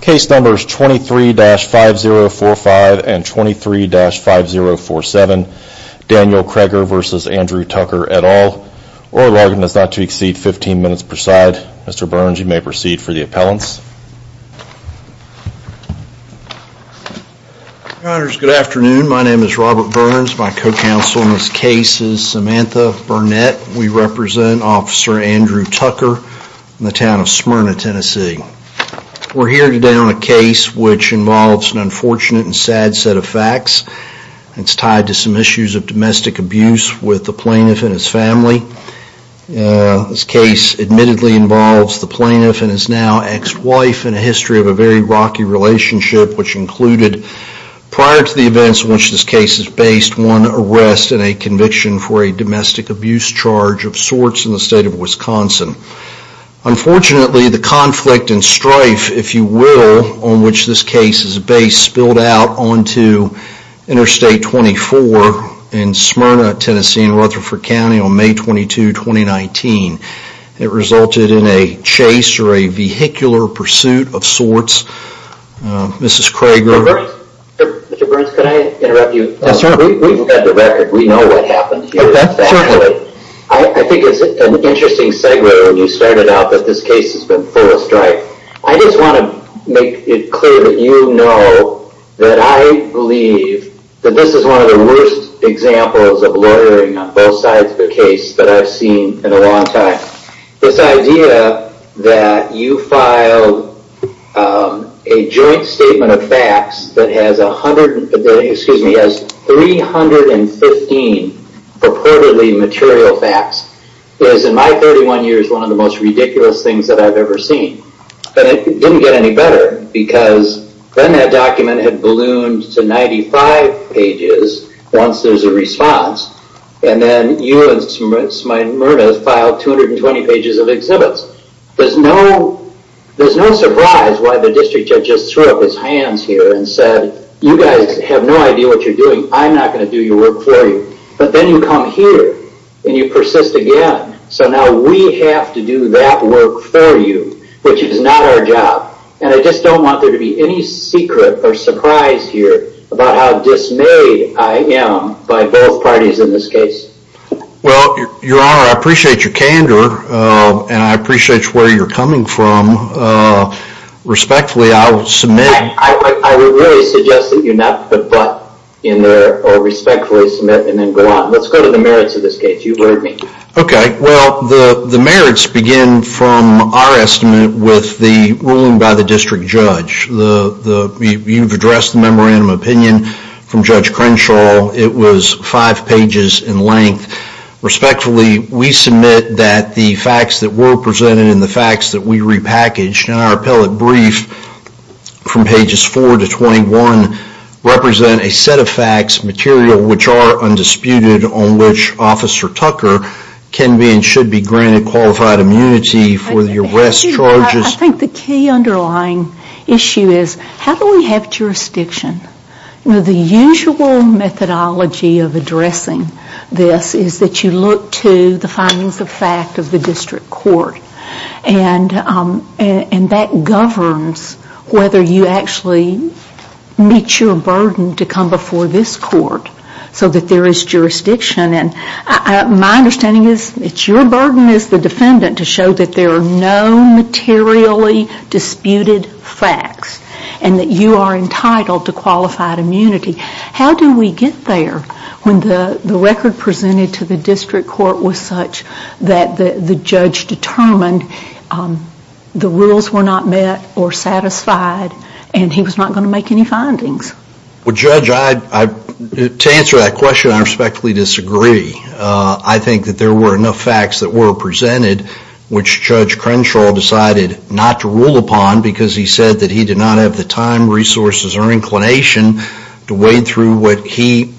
Case numbers 23-5045 and 23-5047 Daniel Creger v. Andrew Tucker et al. Order does not to exceed 15 minutes per side. Mr. Burns you may proceed for the appellants. Your honors, good afternoon. My name is Robert Burns. My co-counsel in this case is Samantha Burnett. We represent Officer Andrew Tucker in the town of Smyrna, Tennessee. We're here today on a case which involves an unfortunate and sad set of facts. It's tied to some issues of domestic abuse with the plaintiff and his family. This case admittedly involves the plaintiff and his now ex-wife in a history of a very rocky relationship which included, prior to the events in which this case is based, one arrest and a conviction for a domestic abuse charge of sorts in the state of Wisconsin. Unfortunately, the conflict and strife, if you will, on which this case is based spilled out onto Interstate 24 in Smyrna, Tennessee in Rutherford County on May 22, 2019. It resulted in a chase or a vehicular pursuit of sorts. Mrs. Creger... Mr. Burns, can I interrupt you? Yes, sir. We've got the record. We know what happened here. I think it's an interesting segue when you started out that this case has been full of strife. I just want to make it clear that you know that I believe that this is one of the worst examples of lawyering on both sides of the case that I've seen in a long time. This idea that you file a joint statement of facts that has 315 purportedly material facts is, in my 31 years, one of the most ridiculous things that I've ever seen. But it didn't get any better because then that document had ballooned to 95 pages once there's a response. And then you and Smyrna filed 220 pages of exhibits. There's no surprise why the district judge just threw up his hands here and said, you guys have no idea what you're doing. I'm not going to do your work for you. But then you come here and you persist again. So now we have to do that work for you, which is not our job. And I just don't want there to be any secret or surprise here about how dismayed I am by both parties in this case. Well, Your Honor, I appreciate your candor and I appreciate where you're coming from. Respectfully, I will submit. I would really suggest that you not put but in there or respectfully submit and then go on. Let's go to the merits of this case. You've heard me. OK, well, the merits begin from our estimate with the ruling by the district judge. You've addressed the memorandum of opinion from Judge Crenshaw. It was five pages in length. Respectfully, we submit that the facts that were presented and the facts that we repackaged in our appellate brief from pages 4 to 21 represent a set of facts, material, which are undisputed on which Officer Tucker can be and should be granted qualified immunity for the arrest charges. I think the key underlying issue is how do we have jurisdiction? The usual methodology of addressing this is that you look to the findings of fact of the district court. And that governs whether you actually meet your burden to come before this court so that there is jurisdiction. My understanding is it's your burden as the defendant to show that there are no materially disputed facts and that you are entitled to qualified immunity. How do we get there when the record presented to the district court was such that the judge determined the rules were not met or satisfied and he was not going to make any findings? Well, Judge, to answer that question, I respectfully disagree. I think that there were enough facts that were presented which Judge Crenshaw decided not to rule upon because he said that he did not have the time, resources, or inclination to wade through what he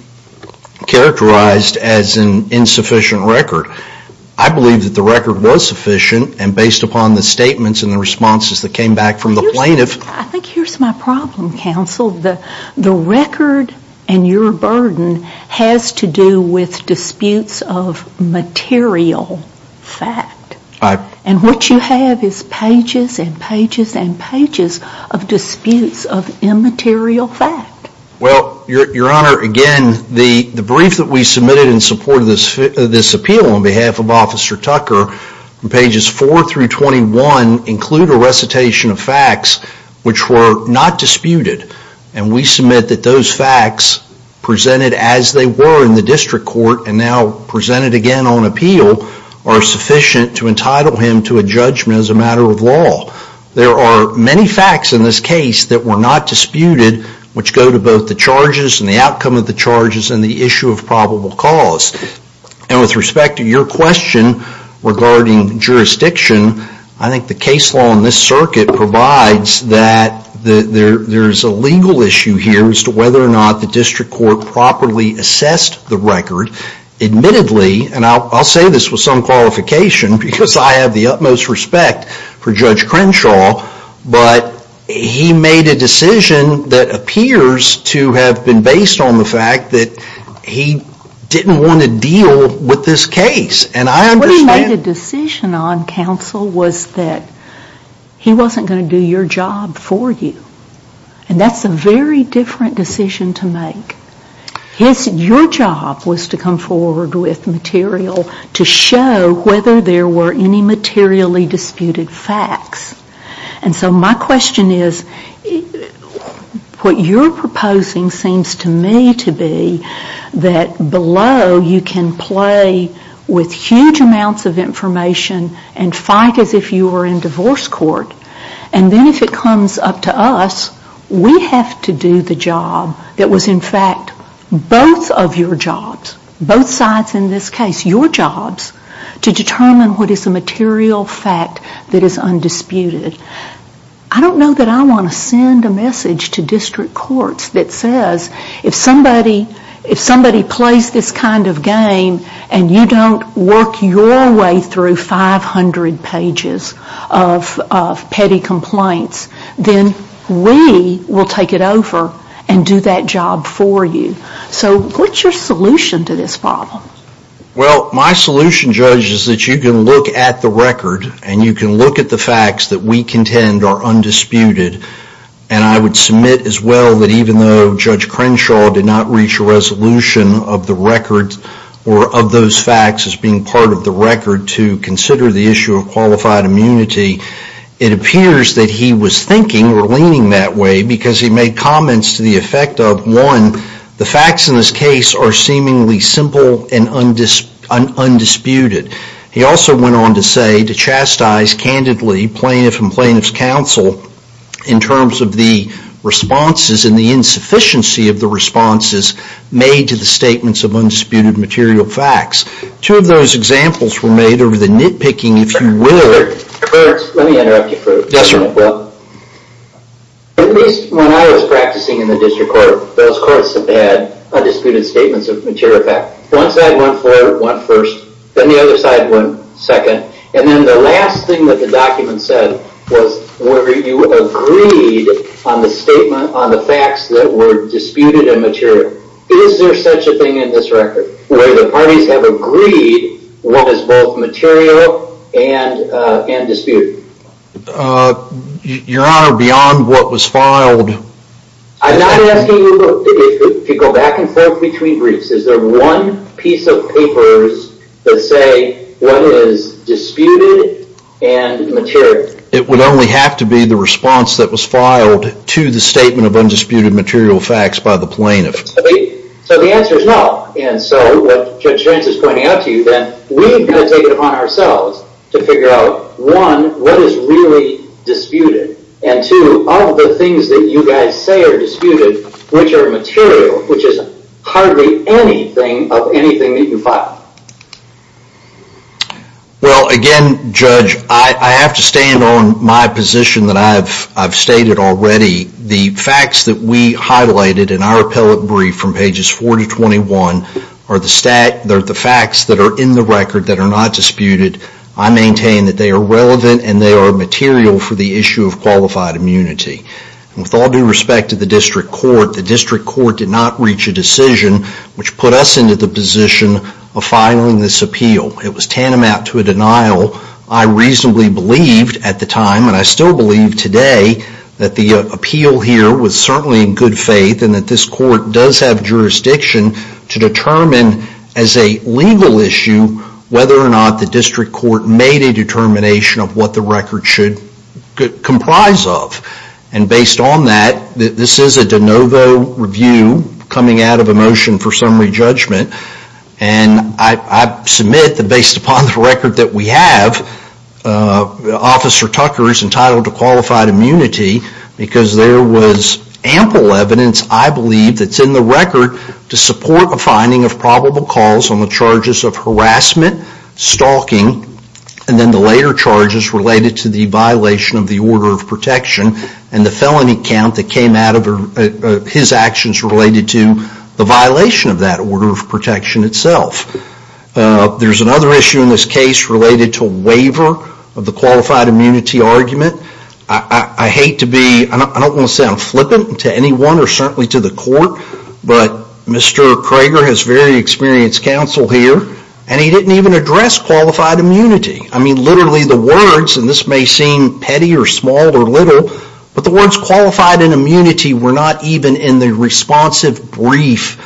characterized as an insufficient record. I believe that the record was sufficient and based upon the statements and the responses that came back from the plaintiff. I think here's my problem, counsel. The record and your burden has to do with disputes of material fact. And what you have is pages and pages and pages of disputes of immaterial fact. Well, Your Honor, again, the brief that we submitted in support of this appeal on behalf of Officer Tucker, pages 4 through 21, include a recitation of facts which were not disputed. And we submit that those facts, presented as they were in the district court and now presented again on appeal, are sufficient to entitle him to a judgment as a matter of law. There are many facts in this case that were not disputed which go to both the charges and the outcome of the charges and the issue of probable cause. And with respect to your question regarding jurisdiction, I think the case law in this circuit provides that there's a legal issue here as to whether or not the district court properly assessed the record. Admittedly, and I'll say this with some qualification because I have the utmost respect for Judge Crenshaw, but he made a decision that appears to have been based on the fact that he didn't want to deal with this case. And I understand... What he made a decision on, counsel, was that he wasn't going to do your job for you. And that's a very different decision to make. Your job was to come forward with material to show whether there were any materially disputed facts. And so my question is, what you're proposing seems to me to be that below you can play with huge amounts of information and fight as if you were in divorce court. And then if it comes up to us, we have to do the job that was in fact both of your jobs, both sides in this case, your jobs, to determine what is a material fact that is undisputed. I don't know that I want to send a message to district courts that says, if somebody plays this kind of game and you don't work your way through 500 pages of petty complaints, then we will take it over and do that job for you. So what's your solution to this problem? Well, my solution, Judge, is that you can look at the record and you can look at the facts that we contend are undisputed. And I would submit as well that even though Judge Crenshaw did not reach a resolution of the record or of those facts as being part of the record to consider the issue of qualified immunity, it appears that he was thinking or leaning that way because he made comments to the effect of, one, the facts in this case are seemingly simple and undisputed. He also went on to say, to chastise candidly plaintiff and plaintiff's counsel in terms of the responses and the insufficiency of the responses made to the statements of undisputed material facts. Two of those examples were made over the nitpicking, if you will. Let me interrupt you for a moment. Yes, sir. When I was practicing in the district court, those courts had undisputed statements of material facts. One side went forward, went first. Then the other side went second. And then the last thing that the document said was whether you agreed on the statement, on the facts that were disputed and material. Is there such a thing in this record where the parties have agreed what is both material and disputed? Your Honor, beyond what was filed... I'm not asking you to go back and forth between briefs. Is there one piece of papers that say what is disputed and material? It would only have to be the response that was filed to the statement of undisputed material facts by the plaintiff. So the answer is no. And so, what Judge Grant is pointing out to you, then we've got to take it upon ourselves to figure out, one, what is really disputed? And two, of the things that you guys say are disputed, which are material, which is hardly anything of anything that you filed. Well, again, Judge, I have to stand on my position that I've stated already. The facts that we highlighted in our appellate brief from pages 4 to 21 are the facts that are in the record that are not disputed. I maintain that they are relevant and they are material for the issue of qualified immunity. With all due respect to the district court, the district court did not reach a decision which put us into the position of filing this appeal. It was tantamount to a denial. I reasonably believed at the time, and I still believe today, that the appeal here was certainly in good faith and that this court does have jurisdiction to determine as a legal issue whether or not the district court made a determination of what the record should comprise of. And based on that, this is a de novo review coming out of a motion for summary judgment. And I submit that based upon the record that we have, Officer Tucker is entitled to qualified immunity because there was ample evidence, I believe, that's in the record to support a finding of probable cause on the charges of harassment, stalking, and then the later charges related to the violation of the order of protection and the felony count that came out of his actions related to the violation of that order of protection itself. There's another issue in this case related to waiver of the qualified immunity argument. I hate to be, I don't want to sound flippant to anyone or certainly to the court, but Mr. Krager has very experienced counsel here and he didn't even address qualified immunity. I mean, literally the words, and this may seem petty or small or little, but the words qualified and immunity were not even in the responsive brief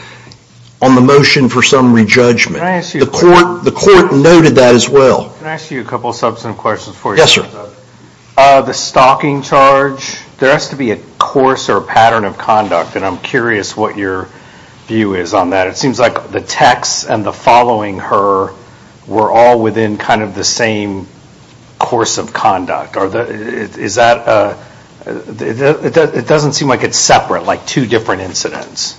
on the motion for summary judgment. The court noted that as well. Can I ask you a couple of substantive questions for you? Yes, sir. The stalking charge, there has to be a course or pattern of conduct and I'm curious what your view is on that. It seems like the texts and the following her were all within kind of the same course of conduct. Is that, it doesn't seem like it's separate, like two different incidents.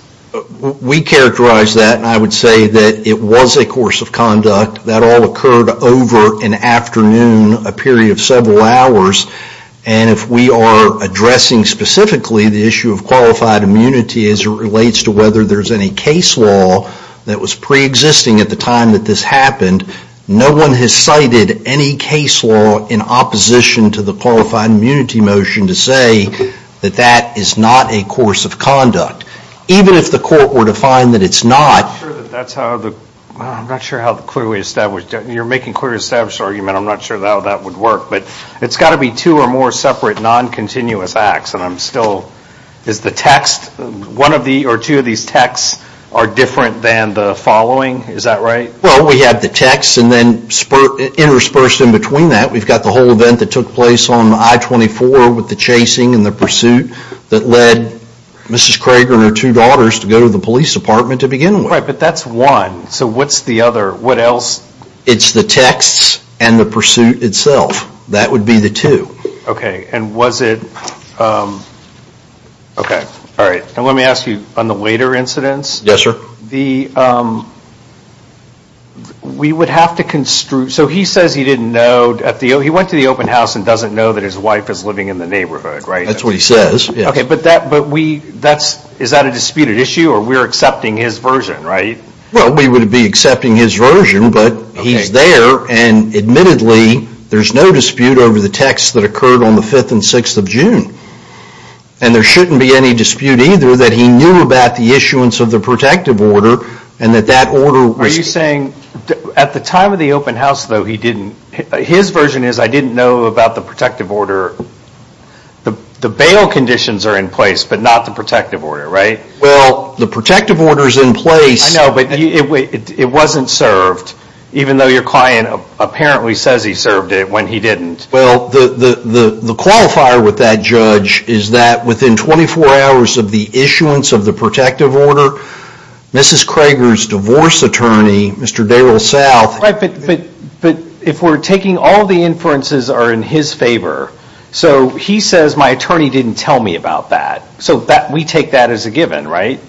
We characterize that and I would say that it was a course of conduct. That all occurred over an afternoon, a period of several hours, and if we are addressing specifically the issue of qualified immunity as it relates to whether there's any case law that was preexisting at the time that this happened, no one has cited any case law in opposition to the qualified immunity motion to say that that is not a course of conduct. Even if the court were to find that it's not. I'm not sure how the clearly established, you're making clearly established argument, I'm not sure how that would work, but it's got to be two or more separate non-continuous acts, and I'm still, is the text, one of the, or two of these texts are different than the following, is that right? Well, we have the texts and then interspersed in between that we've got the whole event that took place on I-24 with the chasing and the pursuit that led Mrs. Krager and her two daughters to go to the police department to begin with. Right, but that's one, so what's the other, what else? It's the texts and the pursuit itself. That would be the two. Okay, and was it, okay, all right. Now let me ask you on the later incidents. Yes, sir. The, we would have to construe, so he says he didn't know, he went to the open house and doesn't know that his wife is living in the neighborhood, right? That's what he says. Okay, but that, but we, that's, is that a disputed issue or we're accepting his version, right? Well, we would be accepting his version, but he's there and admittedly there's no dispute over the texts that occurred on the 5th and 6th of June. And there shouldn't be any dispute either that he knew about the issuance of the protective order and that that order was... Are you saying, at the time of the open house, though, he didn't, his version is I didn't know about the protective order. The bail conditions are in place, but not the protective order, right? Well, the protective order is in place. I know, but it wasn't served, even though your client apparently says he served it when he didn't. Well, the qualifier with that judge is that within 24 hours of the issuance of the protective order, Mrs. Krager's divorce attorney, Mr. Daryl South... Right, but if we're taking all the inferences are in his favor, so he says my attorney didn't tell me about that. So we take that as a given, right?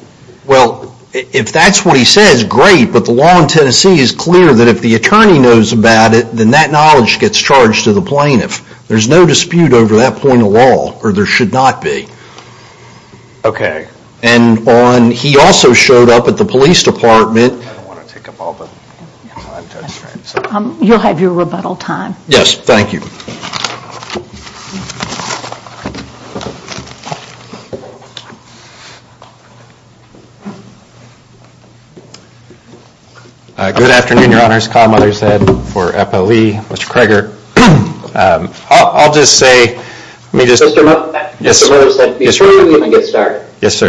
Well, if that's what he says, great, but the law in Tennessee is clear that if the attorney knows about it, then that knowledge gets charged to the plaintiff. There's no dispute over that point of law, or there should not be. Okay. And he also showed up at the police department... I don't want to take up all the time. You'll have your rebuttal time. Yes, thank you. Good afternoon, Your Honors. Kyle Mothershead for EPA-LEA, Mr. Krager. I'll just say... Mr. Mothershead, before we even get started,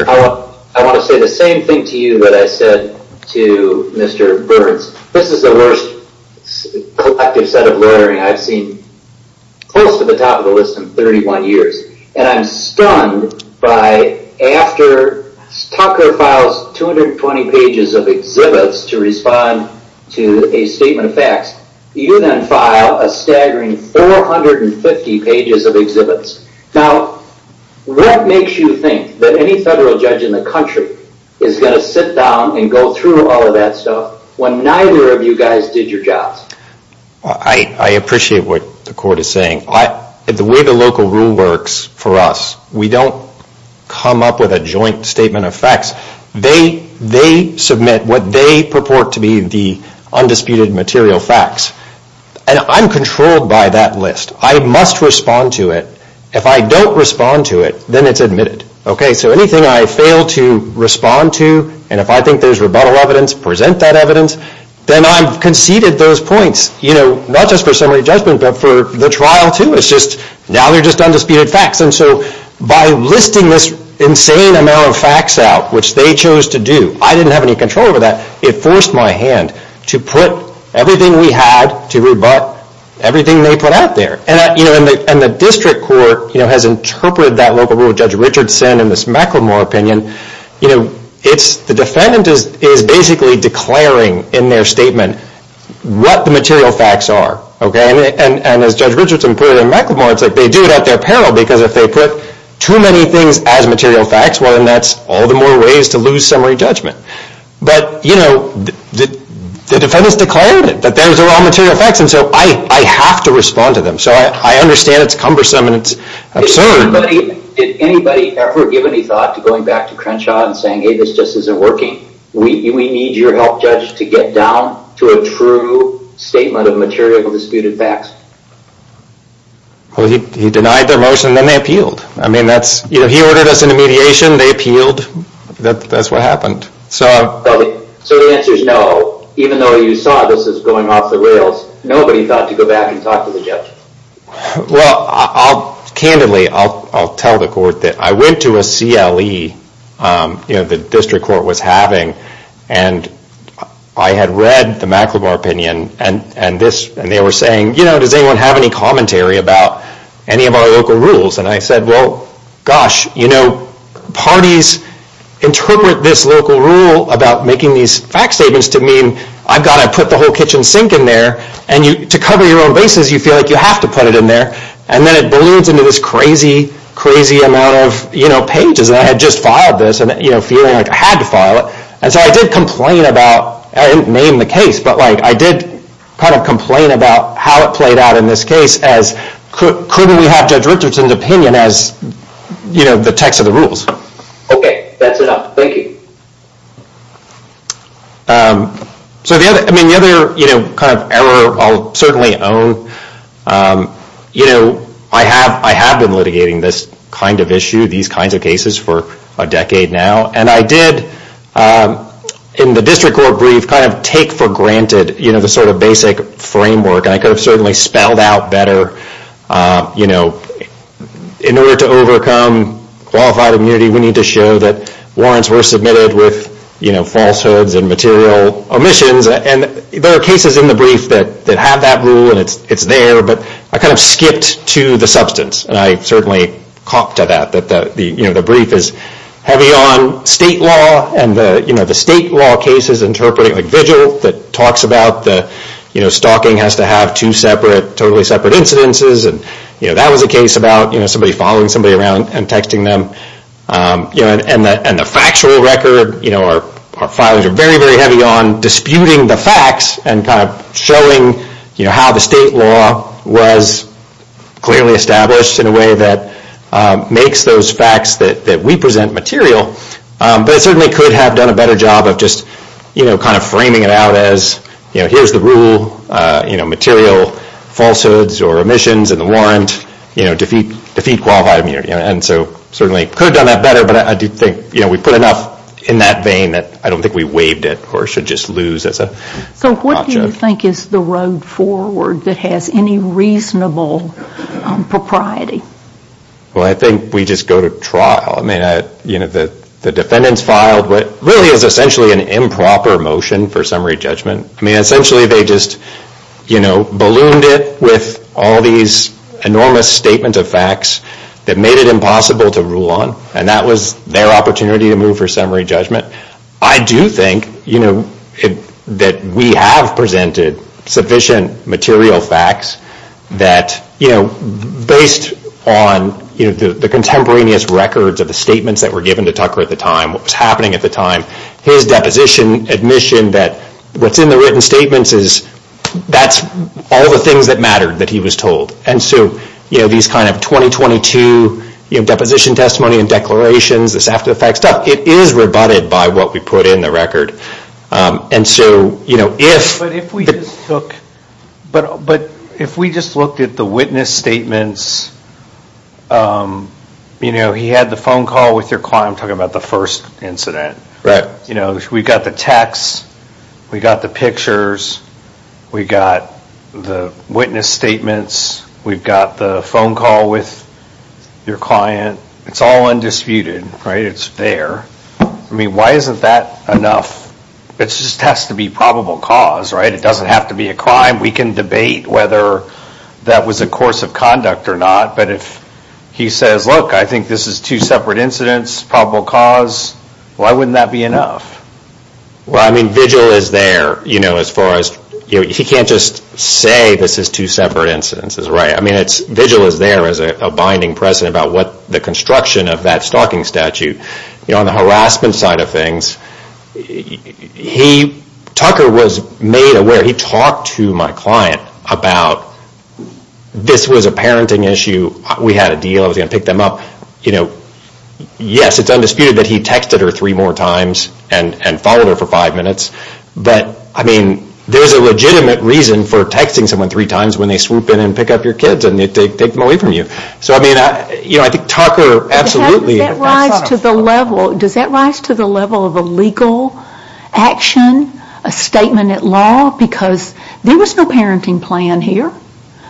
I want to say the same thing to you that I said to Mr. Burns. This is the worst collective set of lawyering I've seen, close to the top of the list in 31 years, and I'm stunned by after Tucker files 220 pages of exhibits to respond to a statement of facts, you then file a staggering 450 pages of exhibits. Now, what makes you think that any federal judge in the country is going to sit down and go through all of that stuff when neither of you guys did your jobs? I appreciate what the Court is saying. The way the local rule works for us, we don't come up with a joint statement of facts. They submit what they purport to be the undisputed material facts. And I'm controlled by that list. I must respond to it. If I don't respond to it, then it's admitted. So anything I fail to respond to, and if I think there's rebuttal evidence, present that evidence, then I've conceded those points. Not just for summary judgment, but for the trial too. Now they're just undisputed facts. And so by listing this insane amount of facts out, which they chose to do, I didn't have any control over that. It forced my hand to put everything we had to rebut, everything they put out there. And the district court has interpreted that local rule. Judge Richardson in this McElmore opinion, the defendant is basically declaring in their statement what the material facts are. And as Judge Richardson put it in McElmore, it's like they do it at their peril, because if they put too many things as material facts, well then that's all the more ways to lose summary judgment. But, you know, the defendants declared it, that those are all material facts, and so I have to respond to them. So I understand it's cumbersome and it's absurd. Did anybody ever give any thought to going back to Crenshaw and saying, hey, this just isn't working? We need your help, Judge, to get down to a true statement of material disputed facts. Well, he denied their motion and then they appealed. I mean, he ordered us into mediation, they appealed. That's what happened. So the answer is no. Even though you saw this as going off the rails, nobody thought to go back and talk to the judge. Well, candidly, I'll tell the court that I went to a CLE, you know, the district court was having, and I had read the McLevore opinion, and they were saying, you know, does anyone have any commentary about any of our local rules? And I said, well, gosh, you know, parties interpret this local rule about making these fact statements to mean I've got to put the whole kitchen sink in there, and to cover your own bases, you feel like you have to put it in there. And then it balloons into this crazy, crazy amount of, you know, pages that I had just filed this, and, you know, feeling like I had to file it. And so I did complain about, I didn't name the case, but, like, I did kind of complain about how it played out in this case, as couldn't we have Judge Richardson's opinion as, you know, the text of the rules? Okay, that's enough. Thank you. So the other, I mean, the other, you know, kind of error I'll certainly own, you know, I have been litigating this kind of issue, these kinds of cases, for a decade now. And I did, in the district court brief, kind of take for granted, you know, the sort of basic framework, and I could have certainly spelled out better, you know, in order to overcome qualified immunity, we need to show that warrants were submitted with, you know, falsehoods and material omissions. And there are cases in the brief that have that rule, and it's there, but I kind of skipped to the substance. And I certainly copped to that, that the, you know, the brief is heavy on state law, and the, you know, the state law case is interpreting, like, vigil that talks about the, you know, stalking has to have two separate, totally separate incidences, and, you know, that was a case about, you know, somebody following somebody around and texting them. You know, and the factual record, you know, our filings are very, very heavy on disputing the facts and kind of showing, you know, how the state law was clearly established in a way that makes those facts that we present material, but it certainly could have done a better job of just, you know, kind of framing it out as, you know, here's the rule, you know, material falsehoods or omissions in the warrant, you know, defeat qualified immunity. And so certainly could have done that better, but I do think, you know, we put enough in that vein that I don't think we waived it or should just lose as an option. What do you think is the road forward that has any reasonable propriety? Well, I think we just go to trial. I mean, you know, the defendants filed what really is essentially an improper motion for summary judgment. I mean, essentially they just, you know, ballooned it with all these enormous statements of facts that made it impossible to rule on, and that was their opportunity to move for summary judgment. I do think, you know, that we have presented sufficient material facts that, you know, based on, you know, the contemporaneous records of the statements that were given to Tucker at the time, what was happening at the time, his deposition admission that what's in the written statements is that's all the things that mattered that he was told. And so, you know, these kind of 2022, you know, deposition testimony and declarations, this after the fact stuff, it is rebutted by what we put in the record. And so, you know, if... But if we just look, but if we just looked at the witness statements, you know, he had the phone call with your client, I'm talking about the first incident. Right. You know, we got the text, we got the pictures, we got the witness statements, we've got the phone call with your client, it's all undisputed, right? It's fair. I mean, why isn't that enough? It just has to be probable cause, right? It doesn't have to be a crime. We can debate whether that was a course of conduct or not. But if he says, look, I think this is two separate incidents, probable cause, why wouldn't that be enough? Well, I mean, vigil is there, you know, as far as, you know, he can't just say this is two separate incidents, right? I mean, vigil is there as a binding precedent about what the construction of that stalking statute. You know, on the harassment side of things, he, Tucker was made aware, he talked to my client about this was a parenting issue, we had a deal, I was going to pick them up, you know. Yes, it's undisputed that he texted her three more times and followed her for five minutes, but I mean, there's a legitimate reason for texting someone three times when they swoop in and pick up your kids and they take them away from you. So, I mean, you know, I think Tucker absolutely... Does that rise to the level of a legal action, a statement at law? Because there was no parenting plan here.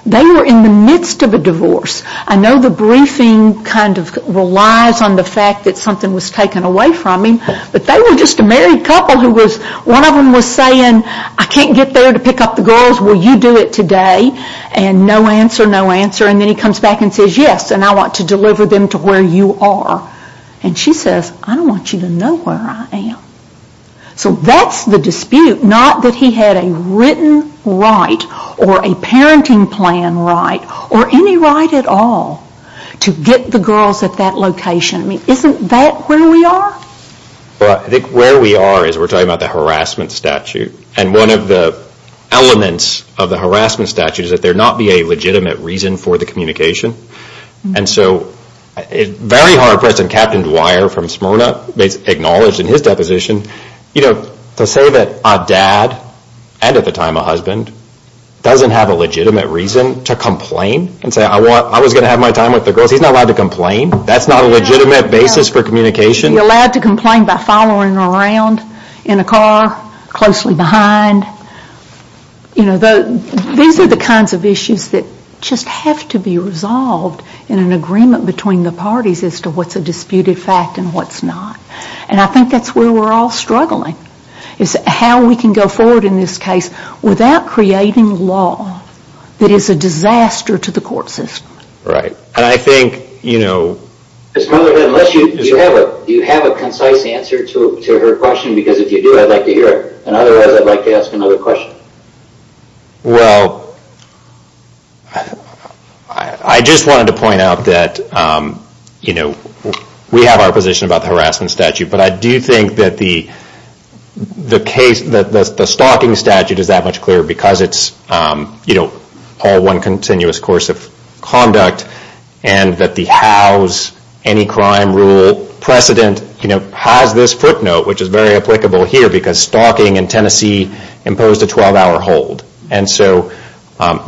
They were in the midst of a divorce. I know the briefing kind of relies on the fact that something was taken away from him, but they were just a married couple who was, one of them was saying, I can't get there to pick up the girls, will you do it today? And no answer, no answer, and then he comes back and says yes, and I want to deliver them to where you are. And she says, I don't want you to know where I am. So that's the dispute, not that he had a written right or a parenting plan right or any right at all to get the girls at that location. I mean, isn't that where we are? Well, I think where we are is we're talking about the harassment statute, and one of the elements of the harassment statute is that there not be a legitimate reason for the communication. And so a very hard person, Captain Dwyer from Smyrna, acknowledged in his deposition, to say that a dad, and at the time a husband, doesn't have a legitimate reason to complain and say I was going to have my time with the girls, he's not allowed to complain. That's not a legitimate basis for communication. He's allowed to complain by following around in a car, closely behind. You know, these are the kinds of issues that just have to be resolved in an agreement between the parties as to what's a disputed fact and what's not. And I think that's where we're all struggling, is how we can go forward in this case without creating law that is a disaster to the court system. Right. And I think, you know... Unless you have a concise answer to her question, because if you do, I'd like to hear it. And otherwise, I'd like to ask another question. Well... I just wanted to point out that, you know, we have our position about the harassment statute, but I do think that the case, the stalking statute is that much clearer because it's, you know, all one continuous course of conduct, and that the hows, any crime rule precedent, you know, has this footnote, which is very applicable here, because stalking in Tennessee imposed a 12-hour hold. And so,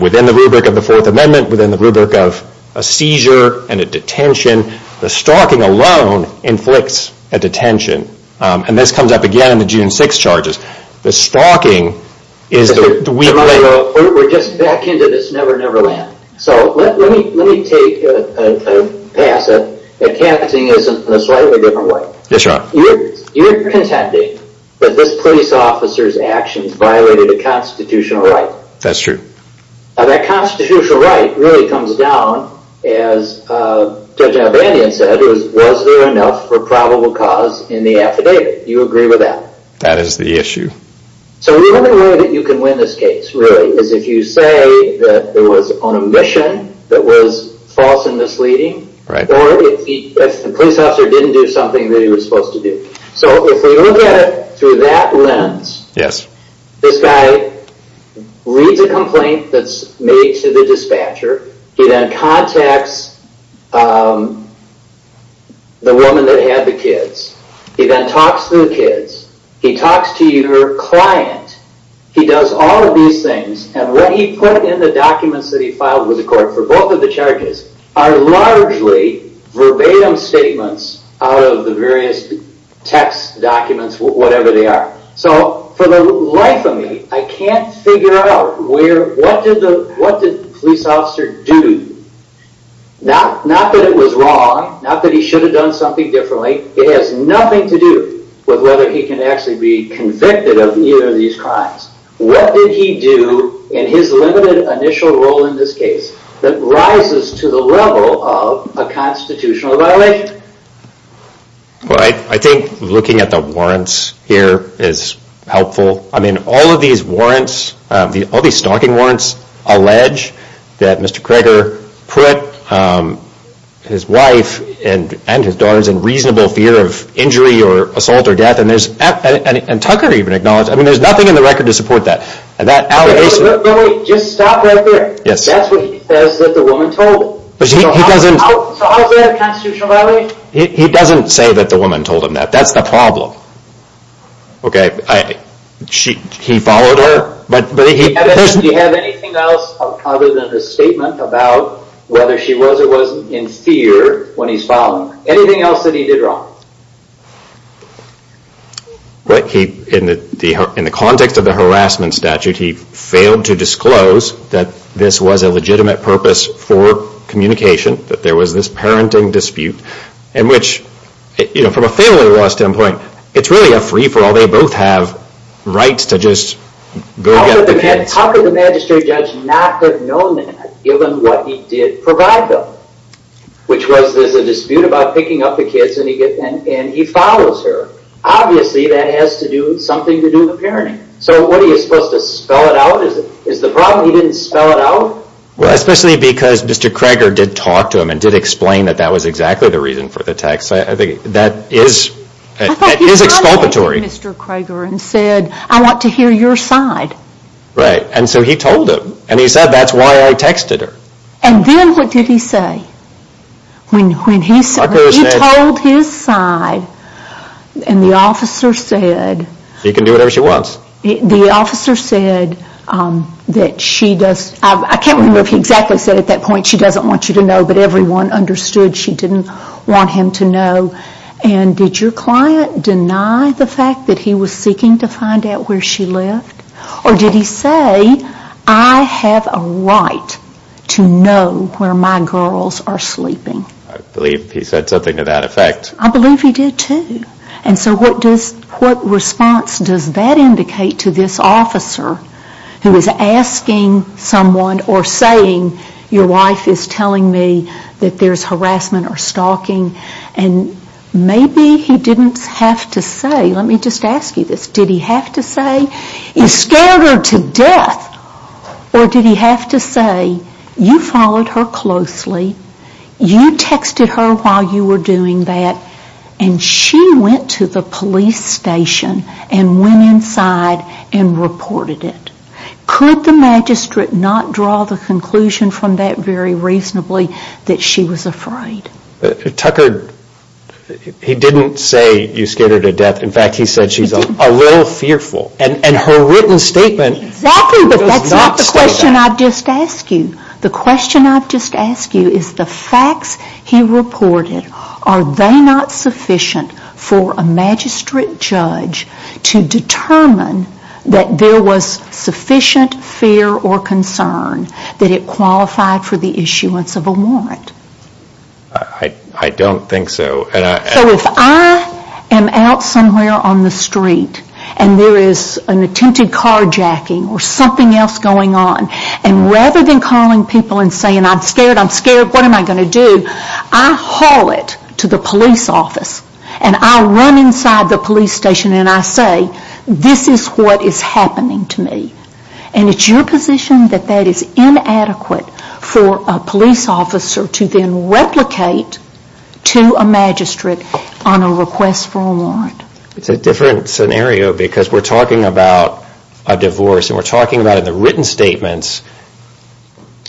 within the rubric of the Fourth Amendment, within the rubric of a seizure and a detention, the stalking alone inflicts a detention. And this comes up again in the June 6th charges. The stalking is the weak link... We're just back into this never-never land. So let me take a pass at casting this in a slightly different way. Yes, Your Honor. You're contending that this police officer's actions violated a constitutional right. That's true. Now, that constitutional right really comes down, as Judge Albanian said, was there enough for probable cause in the affidavit. Do you agree with that? That is the issue. So the only way that you can win this case, really, is if you say that it was on a mission that was false and misleading, or if the police officer didn't do something that he was supposed to do. So if we look at it through that lens... This guy reads a complaint that's made to the dispatcher. He then contacts the woman that had the kids. He then talks to the kids. He talks to your client. He does all of these things, and what he put in the documents that he filed with the court for both of the charges are largely verbatim statements out of the various text documents, whatever they are. So for the life of me, I can't figure out what did the police officer do? Not that it was wrong, not that he should have done something differently. It has nothing to do with whether he can actually be convicted of either of these crimes. What did he do in his limited initial role in this case that rises to the level of a constitutional violation? Well, I think looking at the warrants here is helpful. I mean, all of these warrants, all these stalking warrants, allege that Mr. Kreger put his wife and his daughters in reasonable fear of injury or assault or death, and Tucker even acknowledged it. I mean, there's nothing in the record to support that. And that allegation... But wait, just stop right there. That's what he says that the woman told him. But he doesn't... So how is that a constitutional violation? He doesn't say that the woman told him that. That's the problem. Okay, he followed her, but he... Do you have anything else other than a statement about whether she was or wasn't in fear when he's following her? Anything else that he did wrong? In the context of the harassment statute, he failed to disclose that this was a legitimate purpose for communication, that there was this parenting dispute, in which, from a family law standpoint, it's really a free-for-all. They both have rights to just go get the kids. How could the magistrate judge not have known that given what he did provide them, which was there's a dispute about picking up the kids and he follows her? Obviously, that has to do with something to do with parenting. So what are you supposed to spell it out? Is the problem he didn't spell it out? Well, especially because Mr. Krager did talk to him and did explain that that was exactly the reason for the text. I think that is exculpatory. He called Mr. Krager and said, I want to hear your side. Right, and so he told him. And he said, that's why I texted her. And then what did he say? When he told his side, and the officer said... He can do whatever she wants. The officer said that she does... I can't remember if he exactly said at that point she doesn't want you to know, but everyone understood she didn't want him to know. And did your client deny the fact that he was seeking to find out where she lived? Or did he say, I have a right to know where my girls are sleeping? I believe he said something to that effect. I believe he did too. And so what response does that indicate to this officer who is asking someone or saying, your wife is telling me that there's harassment or stalking, and maybe he didn't have to say, let me just ask you this, did he have to say, he scared her to death, or did he have to say, you followed her closely, you texted her while you were doing that, and she went to the police station and went inside and reported it. Could the magistrate not draw the conclusion from that very reasonably that she was afraid? Tucker, he didn't say you scared her to death. In fact, he said she's a little fearful. And her written statement... Exactly, but that's not the question I've just asked you. The question I've just asked you is the facts he reported, are they not sufficient for a magistrate judge to determine that there was sufficient fear or concern that it qualified for the issuance of a warrant? I don't think so. So if I am out somewhere on the street and there is an attempted carjacking or something else going on, and rather than calling people and saying, I'm scared, I'm scared, what am I going to do? I haul it to the police office and I run inside the police station and I say, this is what is happening to me. And it's your position that that is inadequate for a police officer to then replicate to a magistrate on a request for a warrant. It's a different scenario because we're talking about a divorce and we're talking about in the written statements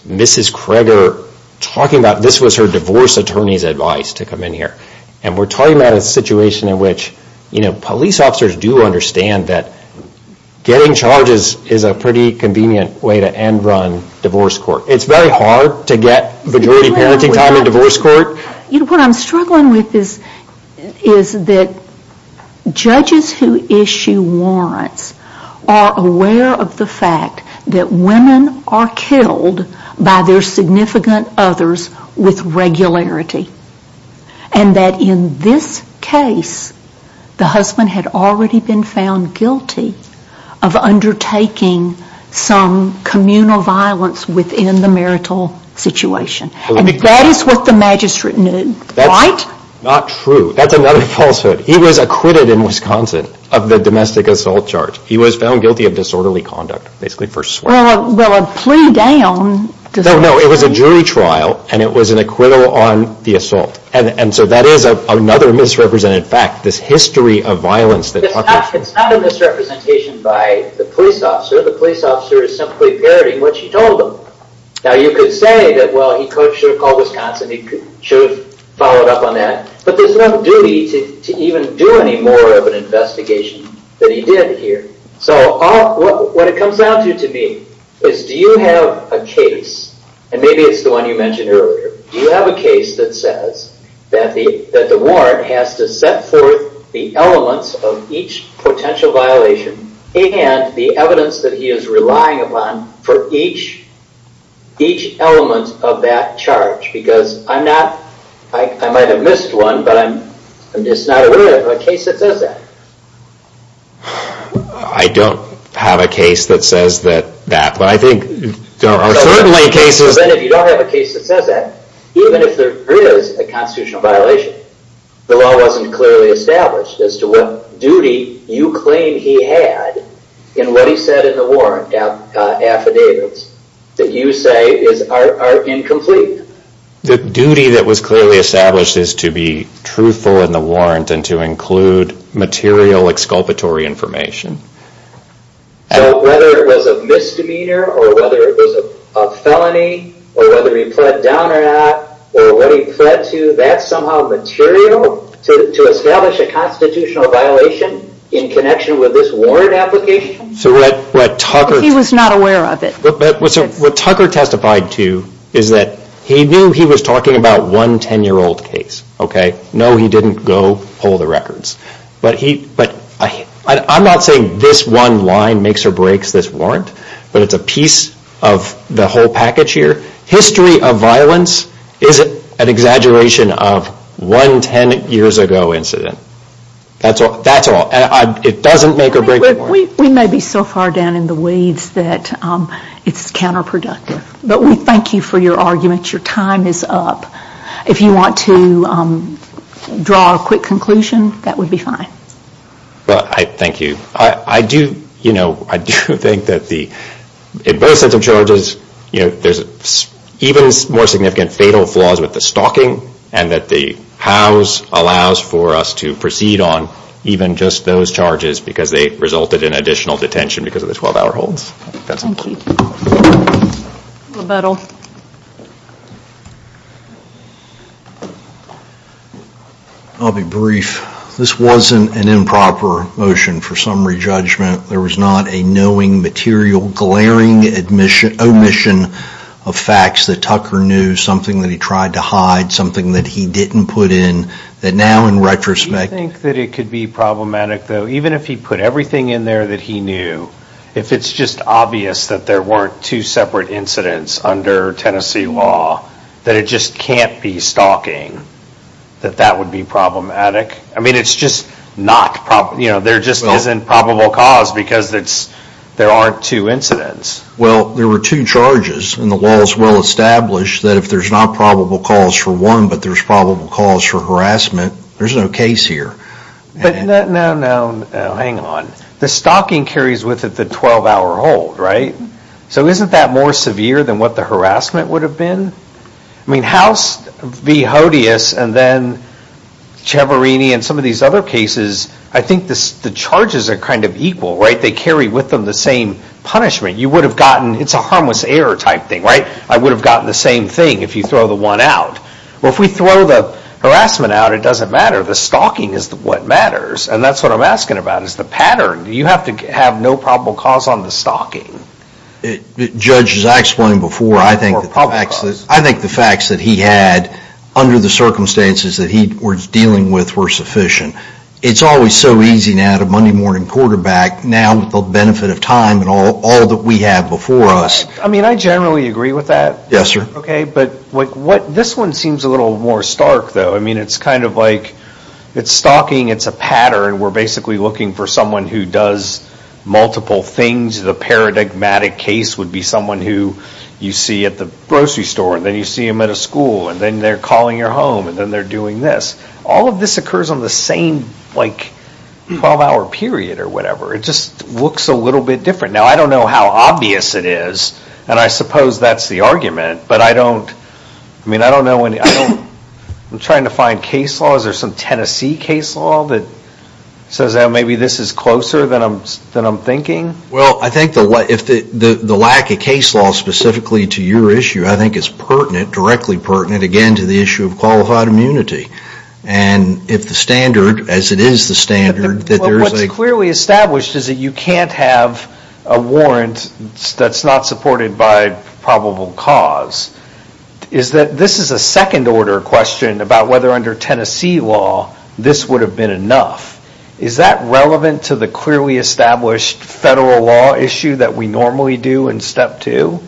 Mrs. Kreger talking about this was her divorce attorney's advice to come in here. And we're talking about a situation in which police officers do understand that getting charges is a pretty convenient way to end run divorce court. It's very hard to get majority parenting time in divorce court. What I'm struggling with is that judges who issue warrants are aware of the fact that women are killed by their significant others with regularity. And that in this case, the husband had already been found guilty of undertaking some communal violence within the marital situation. And that is what the magistrate knew, right? That's not true. That's another falsehood. He was acquitted in Wisconsin of the domestic assault charge. He was found guilty of disorderly conduct. Well, a plea down. No, it was a jury trial and it was an acquittal on the assault. And so that is another misrepresented fact, this history of violence. It's not a misrepresentation by the police officer. The police officer is simply parroting what she told them. Now you could say that, well, he should have called Wisconsin. He should have followed up on that. But there's no duty to even do any more of an investigation that he did here. So what it comes down to to me is do you have a case, and maybe it's the one you mentioned earlier, do you have a case that says that the warrant has to set forth the elements of each potential violation and the evidence that he is relying upon for each element of that charge? Because I'm not, I might have missed one, but I'm just not aware of a case that says that. I don't have a case that says that. But I think there are certainly cases. Then if you don't have a case that says that, even if there is a constitutional violation, the law wasn't clearly established as to what duty you claim he had in what he said in the warrant affidavits that you say are incomplete. The duty that was clearly established is to be truthful in the warrant and to include material exculpatory information. So whether it was a misdemeanor or whether it was a felony or whether he pled down or not or what he pled to, that's somehow material to establish a constitutional violation in connection with this warrant application? He was not aware of it. What Tucker testified to is that he knew he was talking about one 10-year-old case. No, he didn't go pull the records. But I'm not saying this one line makes or breaks this warrant, but it's a piece of the whole package here. History of violence isn't an exaggeration of one 10-years-ago incident. That's all. It doesn't make or break the warrant. We may be so far down in the weeds that it's counterproductive. But we thank you for your argument. Your time is up. If you want to draw a quick conclusion, that would be fine. Thank you. I do think that in both sets of charges, there's even more significant fatal flaws with the stalking and that the hows allows for us to proceed on even just those charges because they resulted in additional detention because of the 12-hour holds. Thank you. Libetal. I'll be brief. This wasn't an improper motion for summary judgment. There was not a knowing, material, glaring omission of facts that Tucker knew, something that he tried to hide, something that he didn't put in, that now in retrospect... Do you think that it could be problematic, though, even if he put everything in there that he knew, if it's just obvious that there weren't two separate incidents under Tennessee law, that it just can't be stalking, that that would be problematic? I mean, it's just not probable. There just isn't probable cause because there aren't two incidents. Well, there were two charges, and the law is well established that if there's not probable cause for one but there's probable cause for harassment, there's no case here. No, no, hang on. The stalking carries with it the 12-hour hold, right? So isn't that more severe than what the harassment would have been? I mean, House v. Hodeus and then Ciavarini and some of these other cases, I think the charges are kind of equal, right? They carry with them the same punishment. You would have gotten... It's a harmless error type thing, right? I would have gotten the same thing if you throw the one out. Well, if we throw the harassment out, it doesn't matter. The stalking is what matters, and that's what I'm asking about, is the pattern. You have to have no probable cause on the stalking. Judge, as I explained before, I think the facts that he had under the circumstances that he was dealing with were sufficient. It's always so easy now to Monday-morning quarterback now with the benefit of time and all that we have before us. I mean, I generally agree with that. Yes, sir. Okay, but this one seems a little more stark, though. I mean, it's kind of like... It's stalking. It's a pattern. We're basically looking for someone who does multiple things. The paradigmatic case would be someone who you see at the grocery store, and then you see him at a school, and then they're calling your home, and then they're doing this. All of this occurs on the same like 12-hour period or whatever. It just looks a little bit different. Now, I don't know how obvious it is, and I suppose that's the argument, but I don't... I mean, I don't know any... I'm trying to find case laws. Is there some Tennessee case law that says that maybe this is closer than I'm thinking? Well, I think the lack of case law specifically to your issue, I think it's pertinent, directly pertinent, again, to the issue of qualified immunity. And if the standard, as it is the standard, that there is a... What's clearly established is that you can't have a warrant that's not supported by probable cause. This is a second-order question about whether under Tennessee law this would have been enough. Is that relevant to the clearly established federal law issue that we normally do in step two?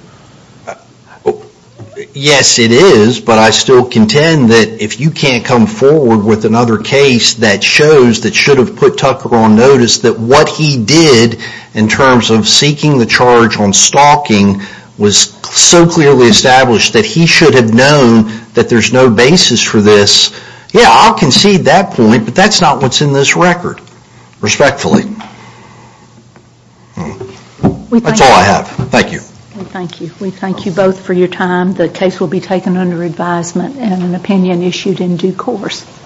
Yes, it is, but I still contend that if you can't come forward with another case that shows that should have put Tucker on notice that what he did in terms of seeking the charge on stalking was so clearly established that he should have known that there's no basis for this, yeah, I'll concede that point, but that's not what's in this record, respectfully. That's all I have. Thank you. Thank you. We thank you both for your time. The case will be taken under advisement and an opinion issued in due course.